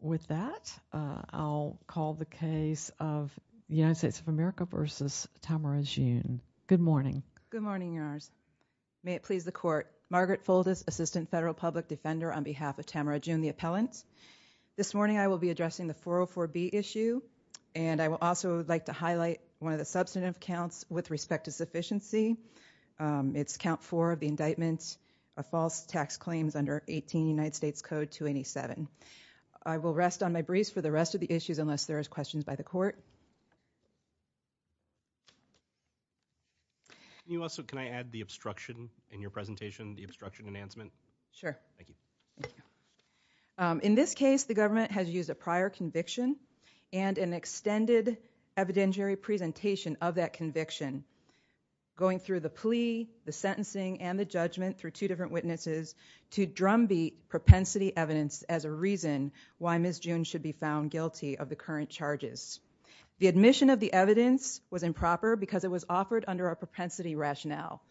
With that, I'll call the case of the United States of America v. Tamara Jeune. Good morning. Good morning, Your Honors. May it please the Court, Margaret Fuldis, Assistant Federal Public Defender on behalf of Tamara Jeune, the appellant. This morning I will be addressing the 404B issue, and I would also like to highlight one of the substantive counts with respect to sufficiency. It's Count 4 of the indictment of false tax claims under 18 United States Code 287. I will rest on my breeze for the rest of the issues unless there are questions by the Court. Can you also, can I add the obstruction in your presentation, the obstruction enhancement? Sure. Thank you. Thank you. In this case, the government has used a prior conviction and an extended evidentiary presentation of that conviction, going through the plea, the sentencing, and the judgment through two different witnesses to drumbeat propensity evidence as a reason why Ms. Jeune should be found guilty of the current charges. The admission of the evidence was improper because it was offered under a propensity rationale.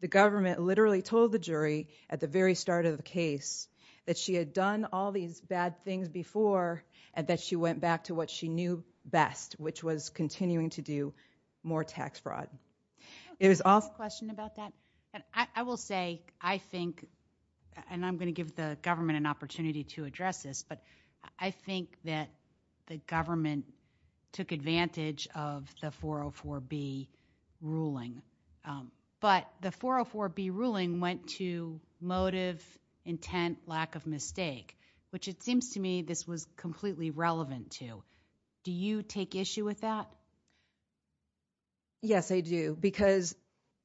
The government literally told the jury at the very start of the case that she had done all these bad things before and that she went back to what she knew best, which was continuing to do more tax fraud. Can I ask a question about that? I will say, I think, and I'm going to give the government an opportunity to address this, but I think that the government took advantage of the 404B ruling, but the 404B ruling went to motive, intent, lack of mistake, which it seems to me this was completely relevant to. Do you take issue with that? Yes, I do, because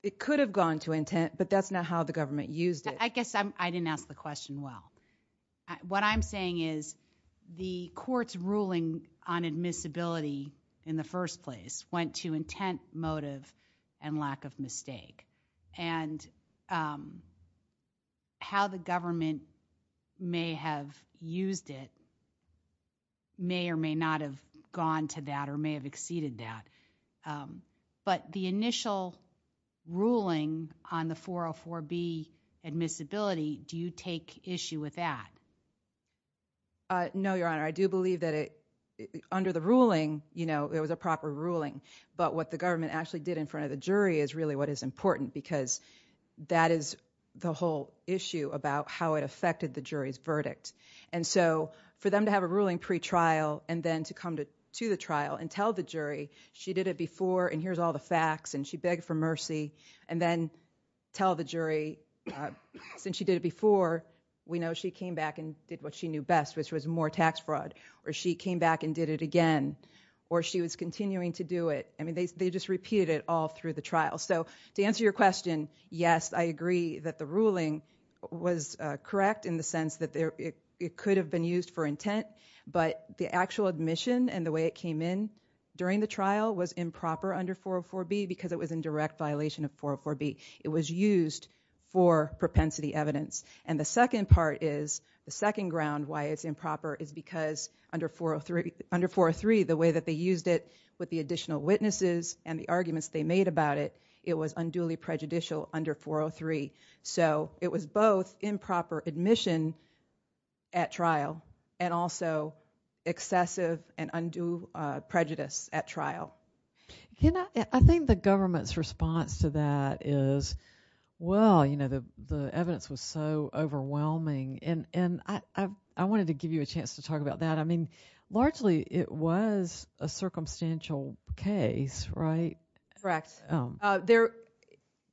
it could have gone to intent, but that's not how the government used it. I guess I didn't ask the question well. What I'm saying is the court's ruling on admissibility in the first place went to intent, motive, and lack of mistake, and how the government may have used it may or may not have gone to that or may have exceeded that, but the initial ruling on the 404B admissibility, do you take issue with that? No, Your Honor. I do believe that under the ruling, it was a proper ruling, but what the government actually did in front of the jury is really what is important because that is the whole issue about how it affected the jury's verdict, and so for them to have a ruling pretrial and then to come to the trial and tell the jury she did it before and here's all the facts and she begged for mercy and then tell the jury since she did it before, we know she came back and did what she knew best, which was more tax fraud, or she came back and did it again, or she was continuing to do it. I mean, they just repeated it all through the trial, so to answer your question, yes, I agree that the ruling was correct in the sense that it could have been used for intent, but the actual admission and the way it came in during the trial was improper under 404B because it was in direct violation of 404B. It was used for propensity evidence, and the second part is, the second ground why it's improper is because under 403, the way that they used it with the additional witnesses and the arguments they made about it, it was unduly prejudicial under 403. So it was both improper admission at trial and also excessive and undue prejudice at trial. I think the government's response to that is, well, you know, the evidence was so overwhelming, and I wanted to give you a chance to talk about that. I mean, largely it was a circumstantial case, right? Correct.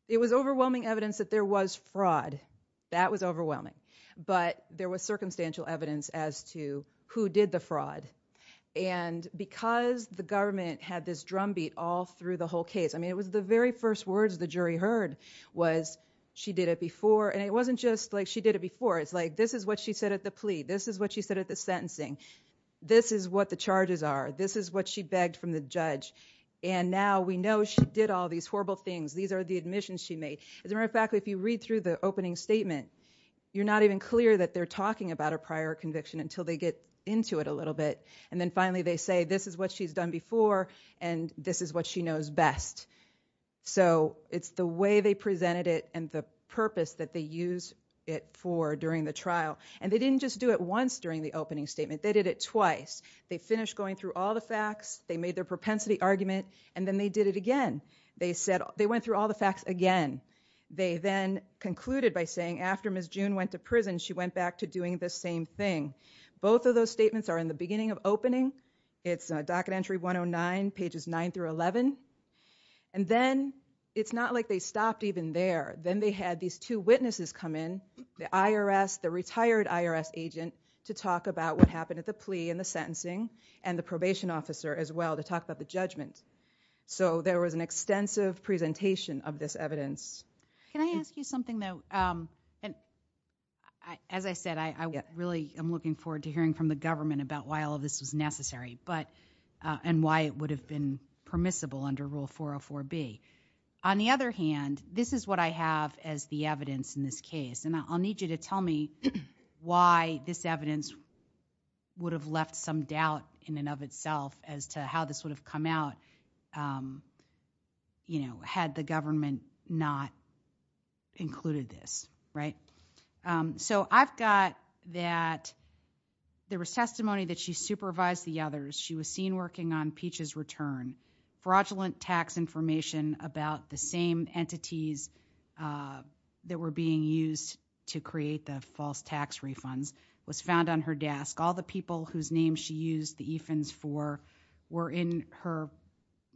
It was overwhelming evidence that there was fraud. That was overwhelming, but there was circumstantial evidence as to who did the fraud, and because the government had this drumbeat all through the whole case, I mean, it was the very first words the jury heard was, she did it before, and it wasn't just like she did it before. It's like, this is what she said at the plea. This is what she said at the sentencing. This is what the judge, and now we know she did all these horrible things. These are the admissions she made. As a matter of fact, if you read through the opening statement, you're not even clear that they're talking about a prior conviction until they get into it a little bit, and then finally they say, this is what she's done before, and this is what she knows best. So it's the way they presented it and the purpose that they used it for during the trial, and they didn't just do it once during the opening statement. They did it twice. They finished going through all the facts. They made their propensity argument, and then they did it again. They went through all the facts again. They then concluded by saying, after Ms. June went to prison, she went back to doing the same thing. Both of those statements are in the beginning of opening. It's docket entry 109, pages 9 through 11, and then it's not like they stopped even there. Then they had these two witnesses come in, the IRS, the retired IRS agent, to talk about what happened at the plea and the sentencing, and the probation officer as well to talk about the judgment. So there was an extensive presentation of this evidence. Can I ask you something, though? As I said, I really am looking forward to hearing from the government about why all of this was necessary and why it would have been permissible under Rule 404B. On the other hand, this is what I have as the evidence in this case, and I'll need you to tell me why this evidence would have left some doubt in and of itself as to how this would have come out, you know, had the government not included this, right? So I've got that there was testimony that she supervised the others. She was seen working on Peach's return, fraudulent tax information about the same entities that were being used to create the false tax refunds was found on her desk. All the people whose names she used the EFINs for were in her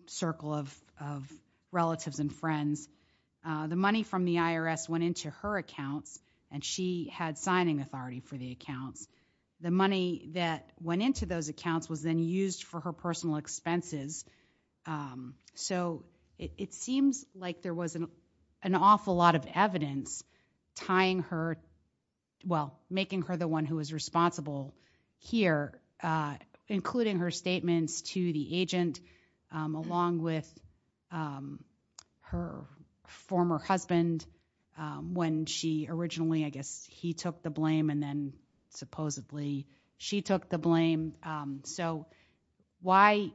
circle of relatives and friends. The money from the IRS went into her accounts, and she had signing authority for the accounts. The money that went into those accounts was then used for her personal expenses. So it seems like there was an awful lot of evidence tying her, well, making her the one who was responsible here, including her statements to the agent along with her former husband when she originally, I guess, he took the blame and then supposedly she took the blame. So why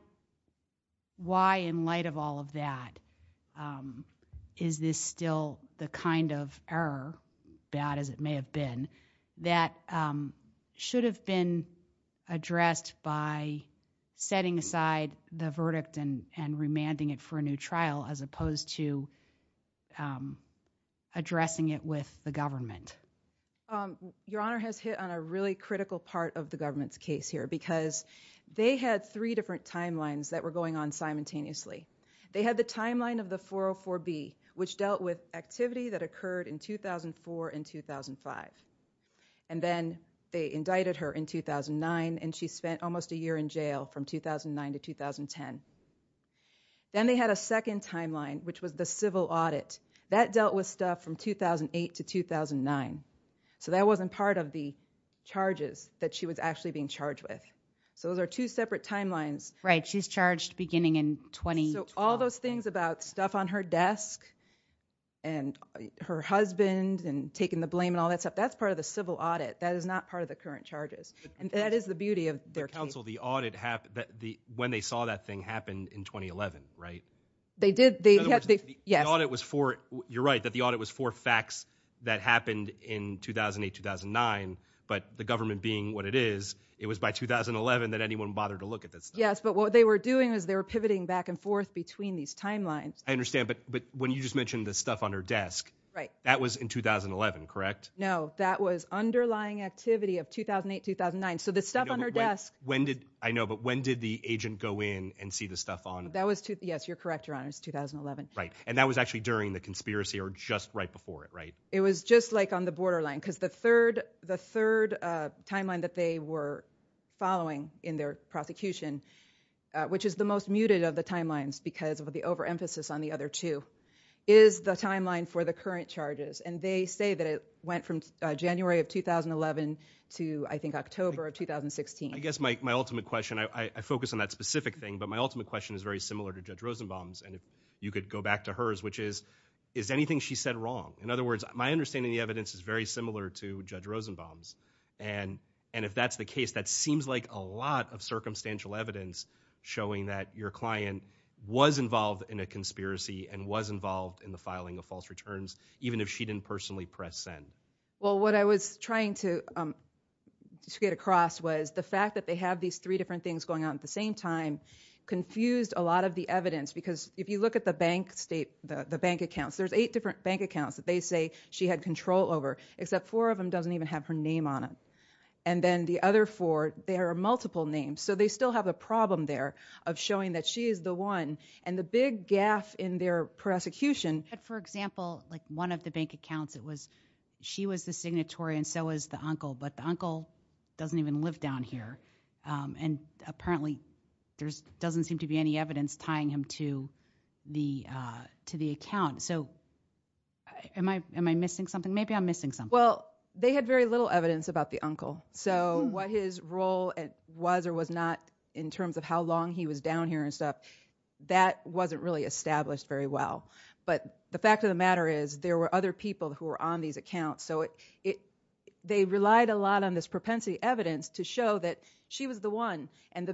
in light of all of that, is this still the kind of error, bad as it may have been, that should have been addressed by setting aside the verdict and remanding it for a new trial as opposed to addressing it with the government? Your Honor has hit on a really critical part of the government's case here because they had three different timelines that were going on simultaneously. They had the timeline of the 404B, which dealt with activity that occurred in 2004 and 2005. And then they indicted her in 2009, and she spent almost a year in jail from 2009 to 2010. Then they had a second timeline, which was the civil audit. That dealt with stuff from 2008 to 2009. So that wasn't part of the charges that she was actually being charged with. So those are two separate timelines. Right. She's charged beginning in 2012. So all those things about stuff on her desk and her husband and taking the blame and all that stuff, that's part of the civil audit. That is not part of the current charges. And that is the beauty of their case. But counsel, the audit, when they saw that thing happened in 2011, right? They did. Yes. In other words, the audit was for, you're right, that the audit was for facts that happened in 2008, 2009. But the government being what it is, it was by 2011 that anyone bothered to look at that stuff. Yes. But what they were doing was they were pivoting back and forth between these timelines. I understand. But when you just mentioned the stuff on her desk, that was in 2011, correct? No. That was underlying activity of 2008, 2009. So the stuff on her desk... I know, but when did the agent go in and see the stuff on... That was, yes, you're correct, Your Honors, 2011. Right. And that was actually during the conspiracy or just right before it, right? It was just like on the borderline. Because the third timeline that they were following in their prosecution, which is the most muted of the timelines because of the overemphasis on the other two, is the timeline for the current charges. And they say that it went from January of 2011 to, I think, October of 2016. I guess my ultimate question, I focus on that specific thing, but my ultimate question is very similar to Judge Rosenbaum's. And if that's the case, that seems like a lot of circumstantial evidence showing that your client was involved in a conspiracy and was involved in the filing of false returns, even if she didn't personally press send. Well, what I was trying to get across was the fact that they have these three different things going on at the same time confused a lot of the evidence. Because if you look at the bank state, the bank accounts, there's eight different bank accounts that they say she had control over, except four of them doesn't even have her name on it. And then the other four, there are multiple names. So they still have a problem there of showing that she is the one. And the big gaffe in their prosecution... For example, like one of the bank accounts, it was, she was the signatory and so was the uncle, but the uncle doesn't even live down here. And apparently there doesn't seem to be any evidence tying him to the account. So am I missing something? Maybe I'm missing something. Well, they had very little evidence about the uncle. So what his role was or was not in terms of how long he was down here and stuff, that wasn't really established very well. But the fact of the matter is there were other people who were on these accounts. So they relied a lot on this propensity evidence to show that she was the one. And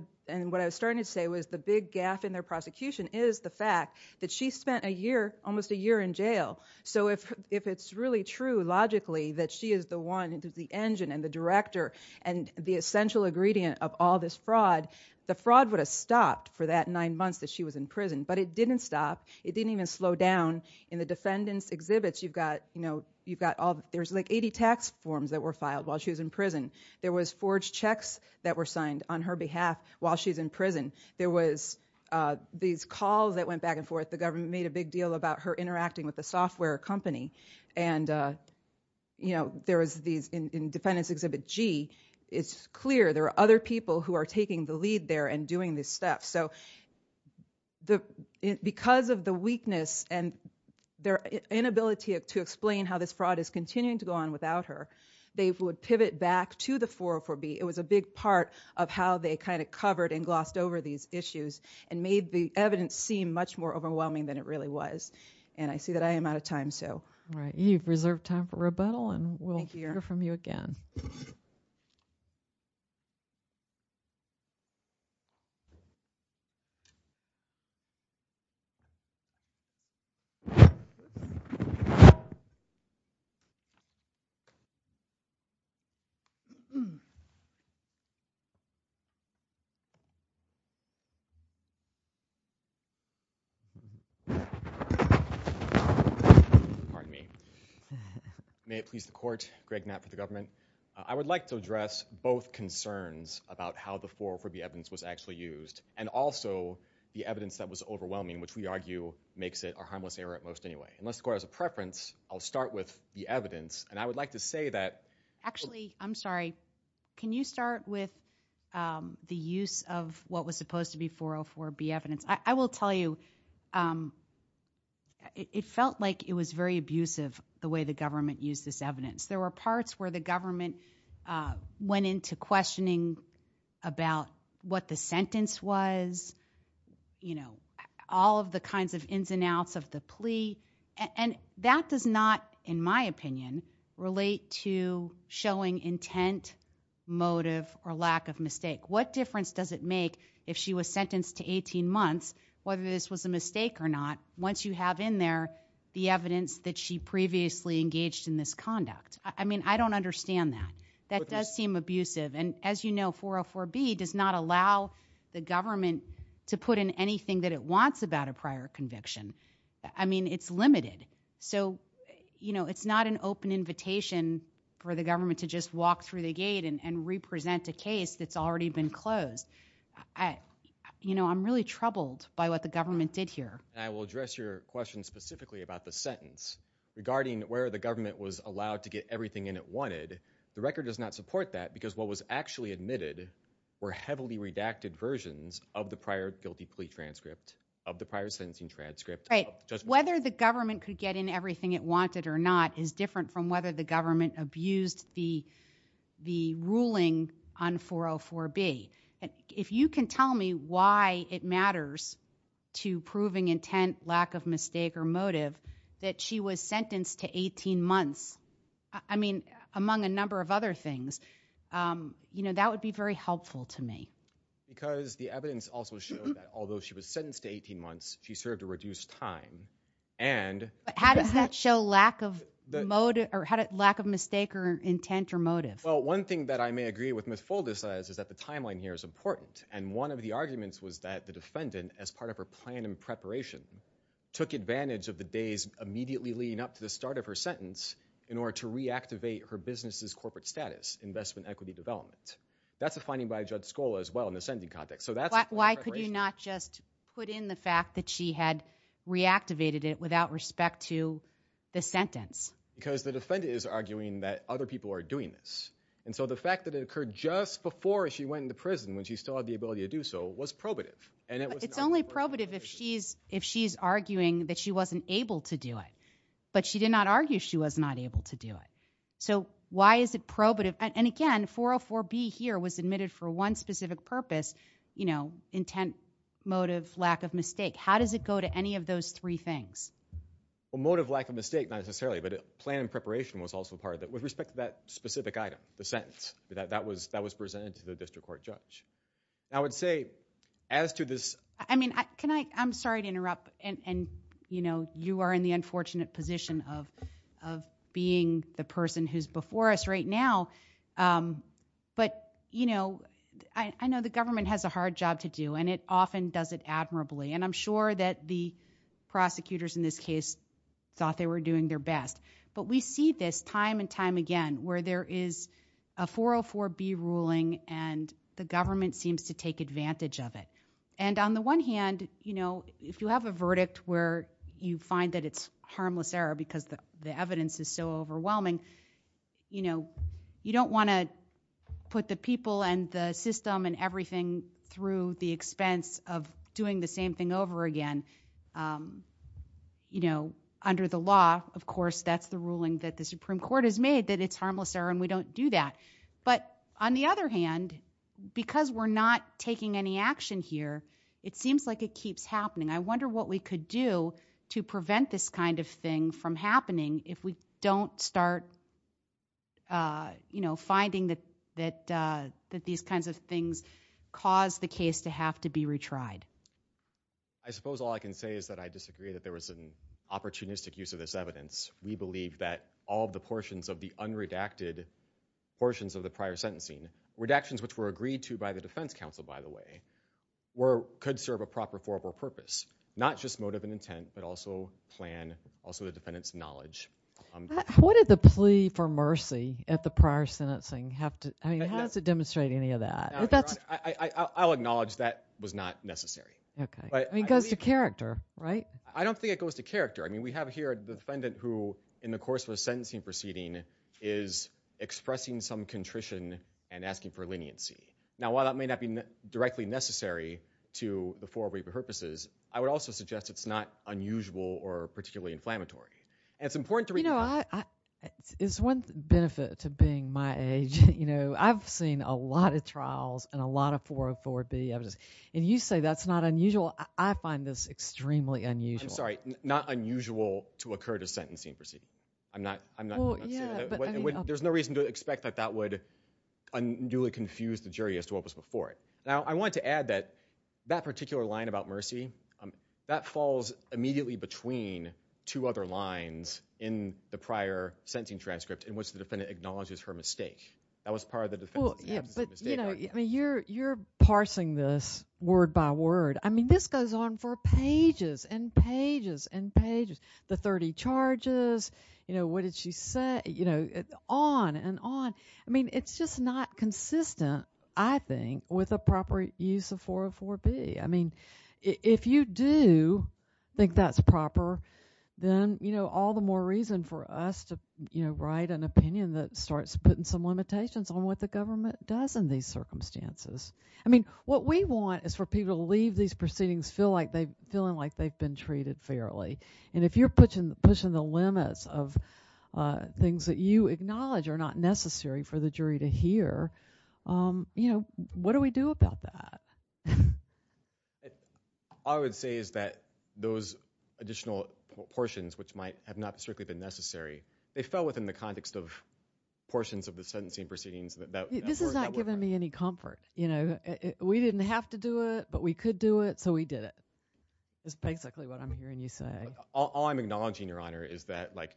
what I was starting to say was the big gaffe in their prosecution is the fact that she spent a year, almost a year in jail. So if it's really true logically that she is the one, the engine and the director and the essential ingredient of all this fraud, the fraud would have stopped for that nine months that she was in prison. But it didn't stop. It didn't even slow down. In the defendants' exhibits, you've got, you know, you've got all, there's like 80 tax forms that were filed while she was in prison. There was forged checks that were signed on her behalf while she's in prison. There was these calls that went back and forth. The government made a big deal about her interacting with the software company. And, you know, there was these, in defendants' exhibit G, it's clear there are other people who are their inability to explain how this fraud is continuing to go on without her, they would pivot back to the 404B. It was a big part of how they kind of covered and glossed over these issues and made the evidence seem much more overwhelming than it really was. And I see that I am out of time, so. All right. You've reserved time for rebuttal and we'll hear from you again. Pardon me. May it please the court, Greg Knapp for the government. I would like to address both concerns about how the 404B evidence was actually used and also the evidence that was overwhelming, which we argue makes it a harmless error at most anyway. And let's go as a preference, I'll start with the evidence. And I would like to say that... Actually, I'm sorry. Can you start with the use of what was supposed to be 404B evidence? I will tell you, it felt like it was very abusive the way the government used this evidence. There were parts where the government went into questioning about what the sentence was, you know, all of the kinds of ins and outs of the plea. And that does not, in my opinion, relate to showing intent, motive, or lack of mistake. What difference does it make if she was sentenced to 18 months, whether this was a mistake or not, once you have in there the evidence that she previously engaged in this conduct? I mean, I don't understand that. That does seem abusive. And as you know, 404B does not allow the government to put in anything that it wants about a prior conviction. I mean, it's limited. So, you know, it's not an open invitation for the government to just walk through the gate and represent a case that's already been closed. You know, I'm really troubled by what the government did here. I will address your question specifically about the sentence. Regarding where the government was allowed to get everything in it wanted, the record does not support that because what was actually admitted were heavily redacted versions of the prior guilty plea transcript, of the prior sentencing transcript. Right. Whether the government could get in everything it wanted or not is different from whether the government abused the ruling on 404B. If you can tell me why it matters to you that she was sentenced to 18 months, I mean, among a number of other things, you know, that would be very helpful to me. Because the evidence also showed that although she was sentenced to 18 months, she served a reduced time. And how does that show lack of motive or lack of mistake or intent or motive? Well, one thing that I may agree with Ms. Fulda says is that the timeline here is important. And one of the arguments was that the defendant, as part of her plan and preparation, took advantage of the days immediately leading up to the start of her sentence in order to reactivate her business' corporate status, investment equity development. That's a finding by Judge Scola as well in the sentencing context. So that's a point of preparation. Why could you not just put in the fact that she had reactivated it without respect to the sentence? Because the defendant is arguing that other people are doing this. And so the fact that it occurred just before she went into prison, when she still had the ability to do so, was probative. And it's only probative if she's arguing that she wasn't able to do it. But she did not argue she was not able to do it. So why is it probative? And again, 404B here was admitted for one specific purpose, you know, intent, motive, lack of mistake. How does it go to any of those three things? Well, motive, lack of mistake, not necessarily. But plan and preparation was also part of it. With respect to that specific item, the sentence, that was presented to the district court judge. I would say, as to this- I mean, can I- I'm sorry to interrupt. And, you know, you are in the unfortunate position of being the person who's before us right now. But, you know, I know the government has a hard job to do, and it often does it admirably. And I'm sure that the prosecutors in this case thought they were doing their best. But we see this time and time again, where there is a 404B ruling, and the government seems to take advantage of it. And on the one hand, you know, if you have a verdict where you find that it's harmless error because the evidence is so overwhelming, you know, you don't want to put the people and the system and everything through the expense of doing the same thing over again. You know, under the law, of course, that's the ruling that the Supreme Court has made, that it's harmless error, and we don't do that. But on the other hand, because we're not taking any action here, it seems like it keeps happening. I wonder what we could do to prevent this kind of thing from happening if we don't start, you know, finding that these kinds of things cause the case to have to be retried. I suppose all I can say is that I disagree that there was an opportunistic use of this evidence. We believe that all of the portions of the unredacted portions of the prior sentencing, redactions which were agreed to by the defense counsel, by the way, could serve a proper formal purpose, not just motive and intent, but also plan, also the defendant's knowledge. What did the plea for mercy at the prior sentencing have to, I mean, how does it demonstrate any of that? I'll acknowledge that was not necessary. Okay. I mean, it goes to character, right? I don't think it goes to character. I mean, we have here a defendant who, in the course of a sentencing proceeding, is expressing some contrition and asking for leniency. Now, while that may not be directly necessary to the four-way purposes, I would also suggest it's not unusual or particularly inflammatory. And it's important to read— It's one benefit to being my age. You know, I've seen a lot of trials and a lot of 404B evidence. And you say that's not unusual. I find this extremely unusual. I'm sorry. Not unusual to occur at a sentencing proceeding. I'm not saying that. There's no reason to expect that that would unduly confuse the jury as to what was before it. Now, I want to add that that particular line about mercy, that falls immediately between two other lines in the prior sentencing transcript in which the defendant acknowledges her mistake. That was part of the defense. Well, yeah, but, you know, I mean, you're parsing this word by word. I mean, this goes on for pages and pages and pages. The 30 charges, you know, what did she say, you know, on and on. I mean, it's just not consistent, I think, with a proper use of 404B. I mean, if you do think that's proper, then, you know, all the more reason for us to, you know, write an opinion that starts putting some limitations on what the government does in these circumstances. I mean, what we want is for people to leave these proceedings feeling like they've been treated fairly. And if you're pushing the limits of things that you acknowledge are not necessary for the jury to hear, you know, what do we do about that? All I would say is that those additional portions, which might have not strictly been necessary, they fell within the context of portions of the sentencing proceedings. This is not giving me any comfort, you know. We didn't have to do it, but we could do it, so we did it. That's basically what I'm hearing you say. All I'm acknowledging, Your Honor, is that, like,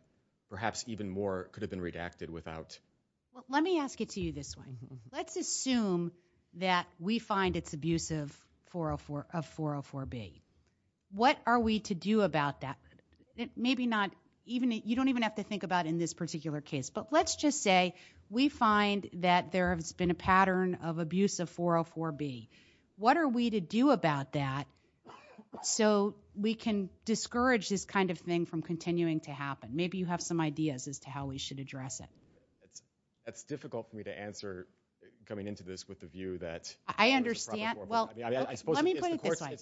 perhaps even more could have been redacted without. Let me ask it to you this way. Let's assume that we find it's abuse of 404B. What are we to do about that? Maybe not even, you don't even have to think about in this particular case, but let's just say we find that there has been a pattern of abuse of 404B. What are we to do about that so we can discourage this kind of thing from continuing to happen? Maybe you have some ideas as to how we should address it. It's difficult for me to answer coming into this with the view that. I understand. Well, let me put it this way.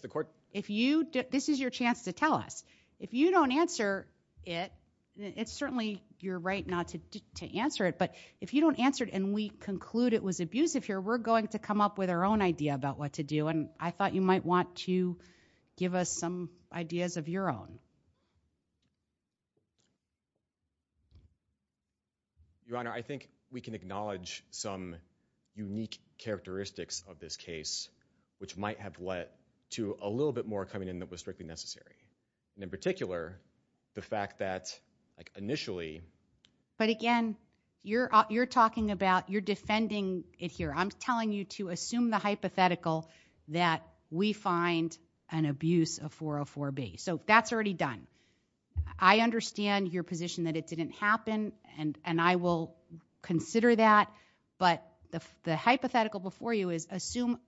If you, this is your chance to tell us. If you don't answer it, it's certainly your right not to answer it, but if you don't answer it and we conclude it was abusive here, we're going to come up with our own idea about what to do, and I thought you might want to give us some ideas of your own. I think we can acknowledge some unique characteristics of this case, which might have led to a little bit more coming in that was strictly necessary. And in particular, the fact that initially. But again, you're talking about, you're defending it here. I'm telling you to assume the hypothetical that we find an abuse of 404B. So that's already done. I understand your position that it didn't happen, and I will consider that. But the hypothetical before you is assume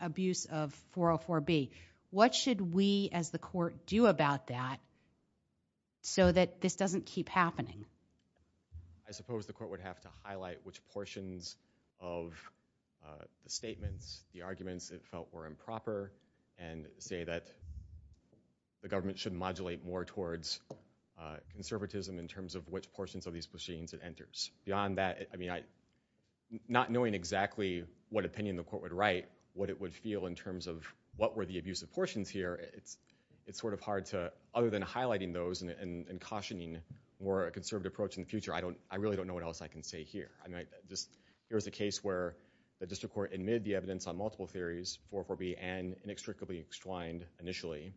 abuse of 404B. What should we as the court do about that so that this doesn't keep happening? I suppose the court would have to highlight which portions of the statements, the arguments it felt were improper, and say that the government should modulate more towards conservatism in terms of which portions of these proceedings it enters. Beyond that, I mean, not knowing exactly what opinion the court would write, what it would feel in terms of what were the abusive portions here, it's sort of hard to, other than highlighting those and cautioning more a conservative approach in the future, I don't, I really don't know what else I can say here. I mean, I just, here's a case where the district court admitted the evidence on multiple theories, 404B and inextricably extwined initially,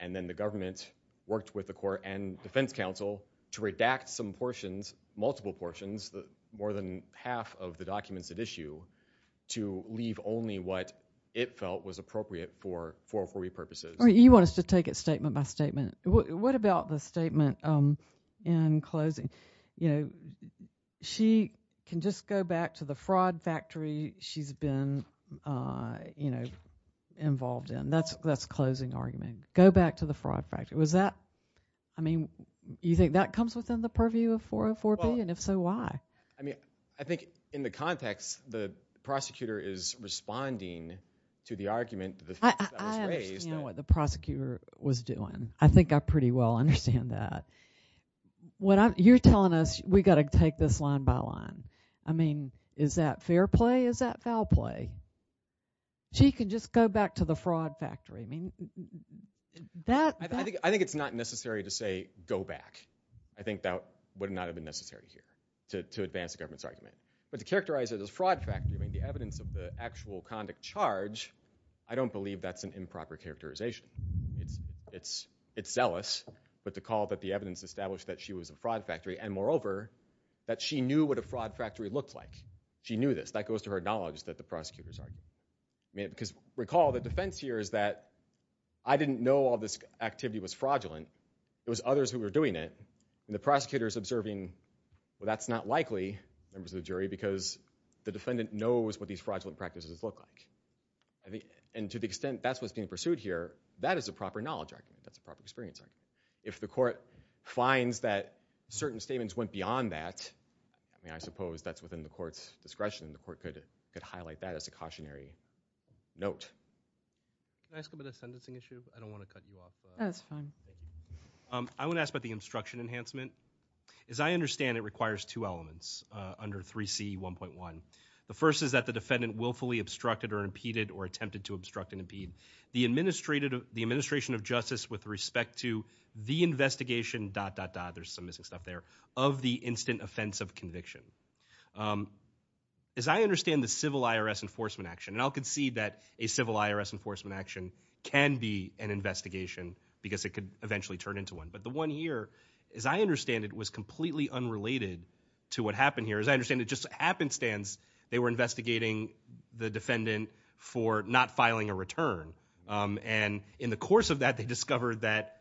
and then the government worked with the court and defense counsel to redact some portions, multiple portions, more than half of the documents at issue, to leave only what it felt was appropriate for 404B purposes. You want us to take it statement by statement. What about the statement in closing? You know, she can just go back to the fraud factory she's been, you know, involved in. That's the closing argument. Go back to the fraud factory. Was that, I mean, you think that comes within the purview of 404B? And if so, why? I mean, I think in the context, the prosecutor is responding to the argument that was raised. I understand what the prosecutor was doing. I think I pretty well understand that. You're telling us we got to take this line by line. I mean, is that fair play? Is that foul play? She can just go back to the fraud factory. I think it's not necessary to say go back. I think that would not have been necessary here to advance the government's argument. But to characterize it as fraud factory, I mean, the evidence of the actual conduct charge, I don't believe that's an improper characterization. It's zealous, but to call that the evidence established that she was a fraud factory, and moreover, that she knew what a fraud factory looked like. She knew this. That goes to her knowledge that the prosecutor's argument. Because recall, the defense here is that I didn't know all this activity was fraudulent. It was others who were doing it. And the prosecutor's observing, well, that's not likely, members of the jury, because the defendant knows what these fraudulent practices look like. And to the extent that's what's being pursued here, that is a proper knowledge argument. That's a proper experience argument. If the court finds that certain statements went beyond that, I mean, I suppose that's within the court's discretion. The court could highlight that as a cautionary note. Can I ask about the sentencing issue? I don't want to cut you off. That's fine. I want to ask about the obstruction enhancement. As I understand, it requires two elements under 3C1.1. The first is that the defendant willfully obstructed or impeded or attempted to obstruct and impede the administration of justice with respect to the investigation, dot, dot, dot, there's some missing stuff there, of the instant offense of conviction. As I understand the civil IRS enforcement action, and I'll concede that a civil IRS enforcement action can be an investigation because it could eventually turn into one, but the one here, as I understand it, was completely unrelated to what happened here. As I understand it, just happenstance, they were investigating the defendant for not filing a return. And in the course of that, they discovered that,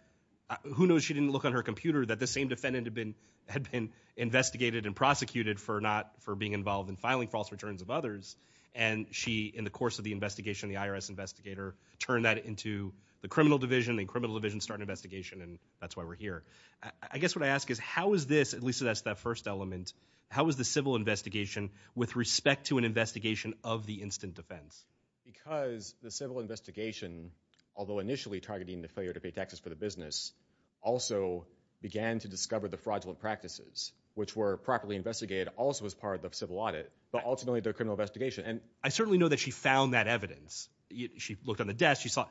who knows, she didn't look on her computer that the same defendant had been investigated and prosecuted for being involved in filing false returns of others, and she, in the course of the investigation, the IRS investigator, turned that into the criminal division, and criminal divisions start an investigation, and that's why we're here. I guess what I ask is, how is this, at least that's that first element, how is the civil investigation with respect to an investigation of the instant defense? Because the civil investigation, although initially targeting the failure to pay taxes for the business, also began to discover the fraudulent practices, which were properly investigated, also as part of the civil audit, but ultimately the criminal investigation. And I certainly know that she found that evidence. She looked on the desk, she saw,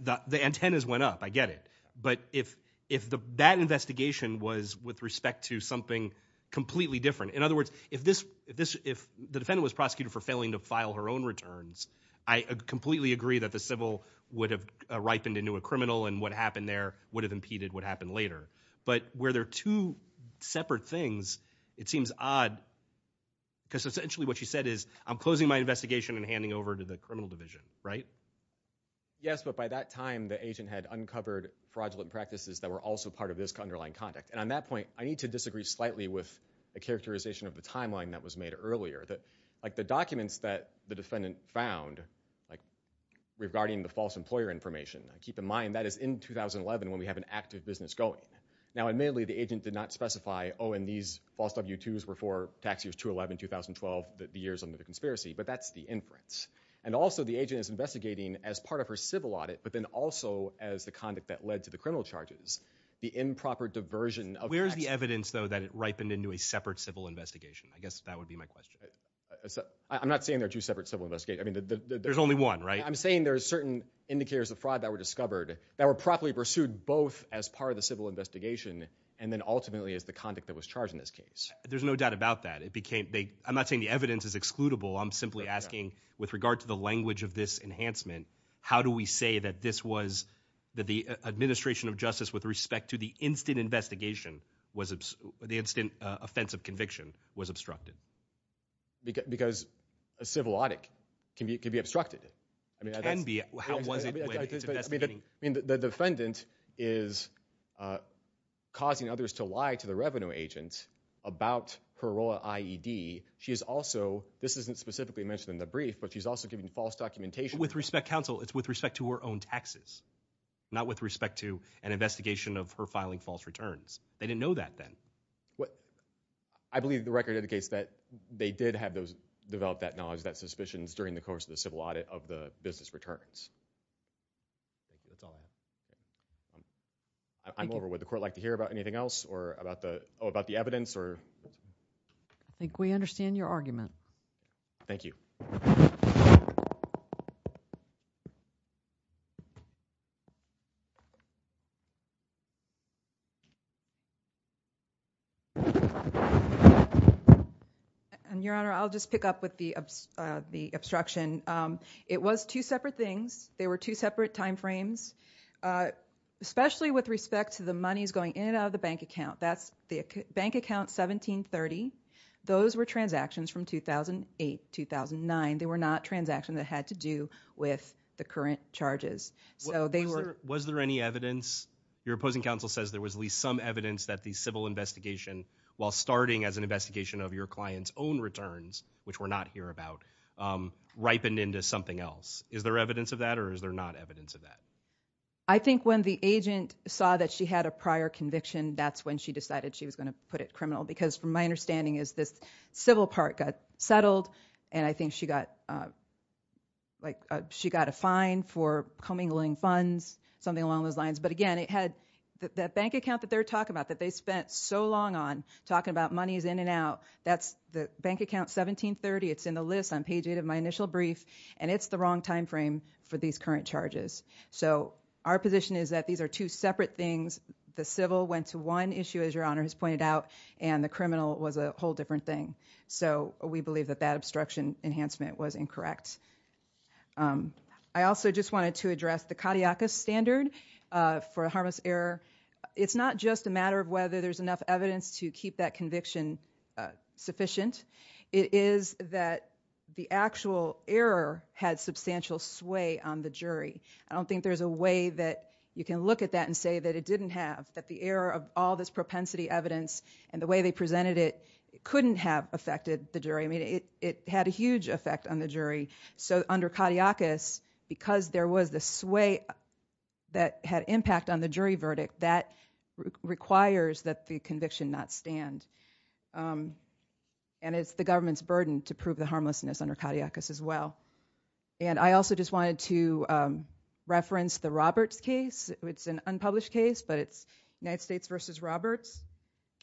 the antennas went up, I get it. But if that investigation was with respect to something completely different, in other words, if the defendant was prosecuted for failing to file her own returns, I completely agree that the civil would have ripened into a criminal, and what happened there would have impeded what happened later. But where there are two separate things, it seems odd, because essentially what she said is, I'm closing my investigation and handing over to the criminal division, right? Yes, but by that time, the agent had uncovered fraudulent practices that were also part of this underlying conduct. And on that point, I need to disagree slightly with the characterization of the timeline that was made earlier. The documents that the defendant found, regarding the false employer information, keep in mind that is in 2011 when we have an active business going. Now, admittedly, the agent did not specify, oh, and these false W-2s were for tax years 2011, 2012, the years under the conspiracy, but that's the inference. And also, the agent is investigating as part of her civil audit, but then also as the conduct that led to the criminal charges. The improper diversion of- Where's the evidence, though, that it ripened into a separate civil investigation? I guess that would be my question. I'm not saying there are two separate civil investigations. I mean, there's only one, right? I'm saying there are certain indicators of fraud that were discovered that were properly pursued, both as part of the civil investigation, and then ultimately as the conduct that was charged in this case. There's no doubt about that. I'm not saying the evidence is excludable. I'm simply asking, with regard to the language of this enhancement, how do we say that this was, that the administration of justice with respect to the instant investigation, the instant offense of conviction was obstructed? Because a civil audit can be obstructed. It can be. How was it when it's investigating? The defendant is causing others to lie to the revenue agent about her role at IED. She is also, this isn't specifically mentioned in the brief, but she's also giving false documentation- With respect, counsel, it's with respect to her own taxes, not with respect to an investigation of her filing false returns. They didn't know that then. I believe the record indicates that they did have those, develop that knowledge, that suspicions during the course of the civil audit of the business returns. That's all I have. I'm over. Would the court like to hear about anything else or about the, oh, about the evidence or- I think we understand your argument. Thank you. And your honor, I'll just pick up with the obstruction. It was two separate things. They were two separate timeframes, especially with respect to the monies going in and out of the bank account. That's the bank account 1730. Those were transactions from 2008, 2009. They were not transactions that had to do with the current charges. So they were- Was there any evidence? Your opposing counsel says there was at least some evidence that the civil investigation, while starting as an investigation of your client's own returns, which we're not here about, ripened into something else. Is there evidence of that or is there not evidence of that? I think when the agent saw that she had a prior conviction, that's when she decided she was going to put it criminal. Because from my understanding is this civil part got settled and I think she got a fine for commingling funds, something along those lines. But again, it had that bank account that they're talking about that they spent so long on talking about monies in and out. That's the bank account 1730. It's in the list on page eight of my initial brief. And it's the wrong time frame for these current charges. So our position is that these are two separate things. The civil went to one issue, as your honor has pointed out, and the criminal was a whole different thing. So we believe that that obstruction enhancement was incorrect. I also just wanted to address the cardiacus standard for a harmless error. It's not just a matter of whether there's enough evidence to keep that conviction sufficient. It is that the actual error had substantial sway on the jury. I don't think there's a way that you can look at that and say that it didn't have, that the error of all this propensity evidence and the way they presented it couldn't have affected the jury. I mean, it had a huge effect on the jury. So under cardiacus, because there was the sway that had impact on the jury verdict, that requires that the conviction not stand. And it's the government's burden to prove the harmlessness under cardiacus as well. And I also just wanted to reference the Roberts case. It's an unpublished case, but it's United States versus Roberts.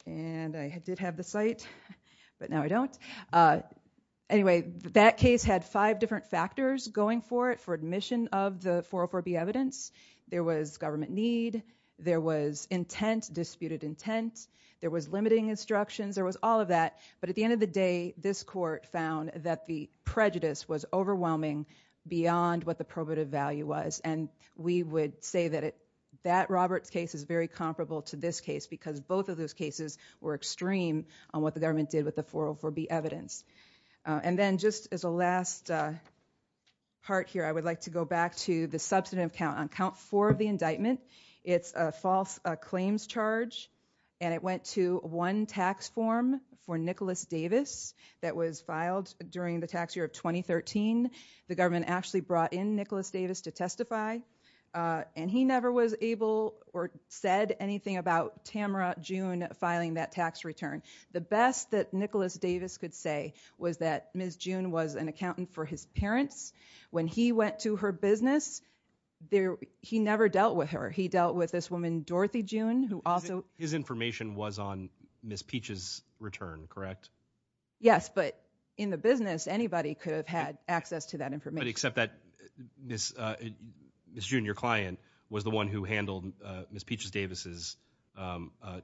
And I did have the site, but now I don't. Anyway, that case had five different factors going for it for admission of the 404B evidence. There was government need. There was intent, disputed intent. There was limiting instructions. There was all of that. But at the end of the day, this court found that the prejudice was overwhelming beyond what the probative value was. And we would say that Roberts case is very comparable to this case because both of those cases were extreme on what the government did with the 404B evidence. And then just as a last part here, I would like to go back to the substantive count. On count four of the indictment, it's a false claims charge. And it went to one tax form for Nicholas Davis that was filed during the tax year of 2013. The government actually brought in Nicholas Davis to testify. And he never was able or said anything about Tamara June filing that tax return. The best that Nicholas Davis could say was that Ms. June was an accountant for his parents. When he went to her business, he never dealt with her. He dealt with this woman, Dorothy June, who also- His information was on Ms. Peach's return, correct? Yes, but in the business, anybody could have had access to that information. But except that Ms. June, your client, was the one who handled Ms. Peach's Davis'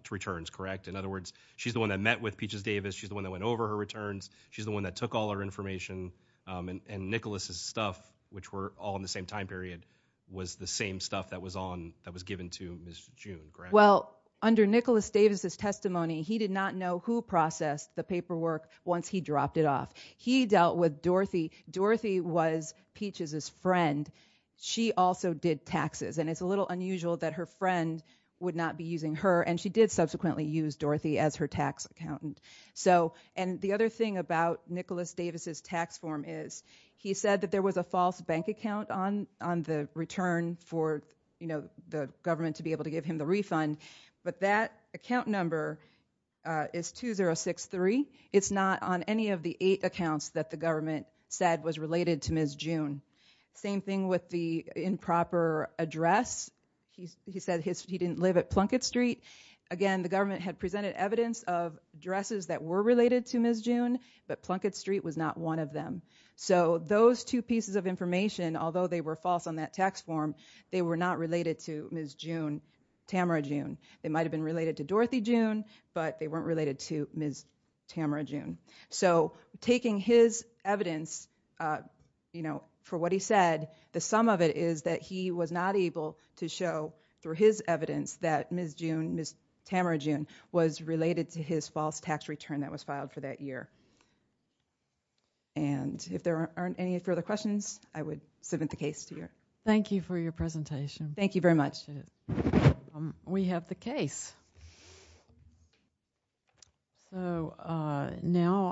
returns, correct? In other words, she's the one that met with Peach's Davis. She's the one that went over her returns. She's the one that took all our information. And Nicholas' stuff, which were all in the same time period, was the same stuff that was on, that was given to Ms. June, correct? Well, under Nicholas Davis' testimony, he did not know who processed the paperwork once he dropped it off. He dealt with Dorothy. Dorothy was Peach's friend. She also did taxes. And it's a little unusual that her friend would not be using her. And she did subsequently use Dorothy as her tax accountant. And the other thing about Nicholas Davis' tax form is he said that there was a false bank account on the return for the government to be able to give him the refund. But that account number is 2063. It's not on any of the eight accounts that the government said was related to Ms. June. Same thing with the improper address. He said he didn't live at Plunkett Street. Again, the government had presented evidence of addresses that were related to Ms. June, but Plunkett Street was not one of them. So those two pieces of information, although they were false on that tax form, they were not related to Ms. June, Tamara June. They might have been related to Dorothy June, but they weren't related to Ms. Tamara June. So taking his evidence for what he said, the sum of it is that he was not able to show through his evidence that Ms. June, Ms. Tamara June was related to his false tax return that was filed for that year. And if there aren't any further questions, I would submit the case to you. Thank you for your presentation. Thank you very much. We have the case. So now I...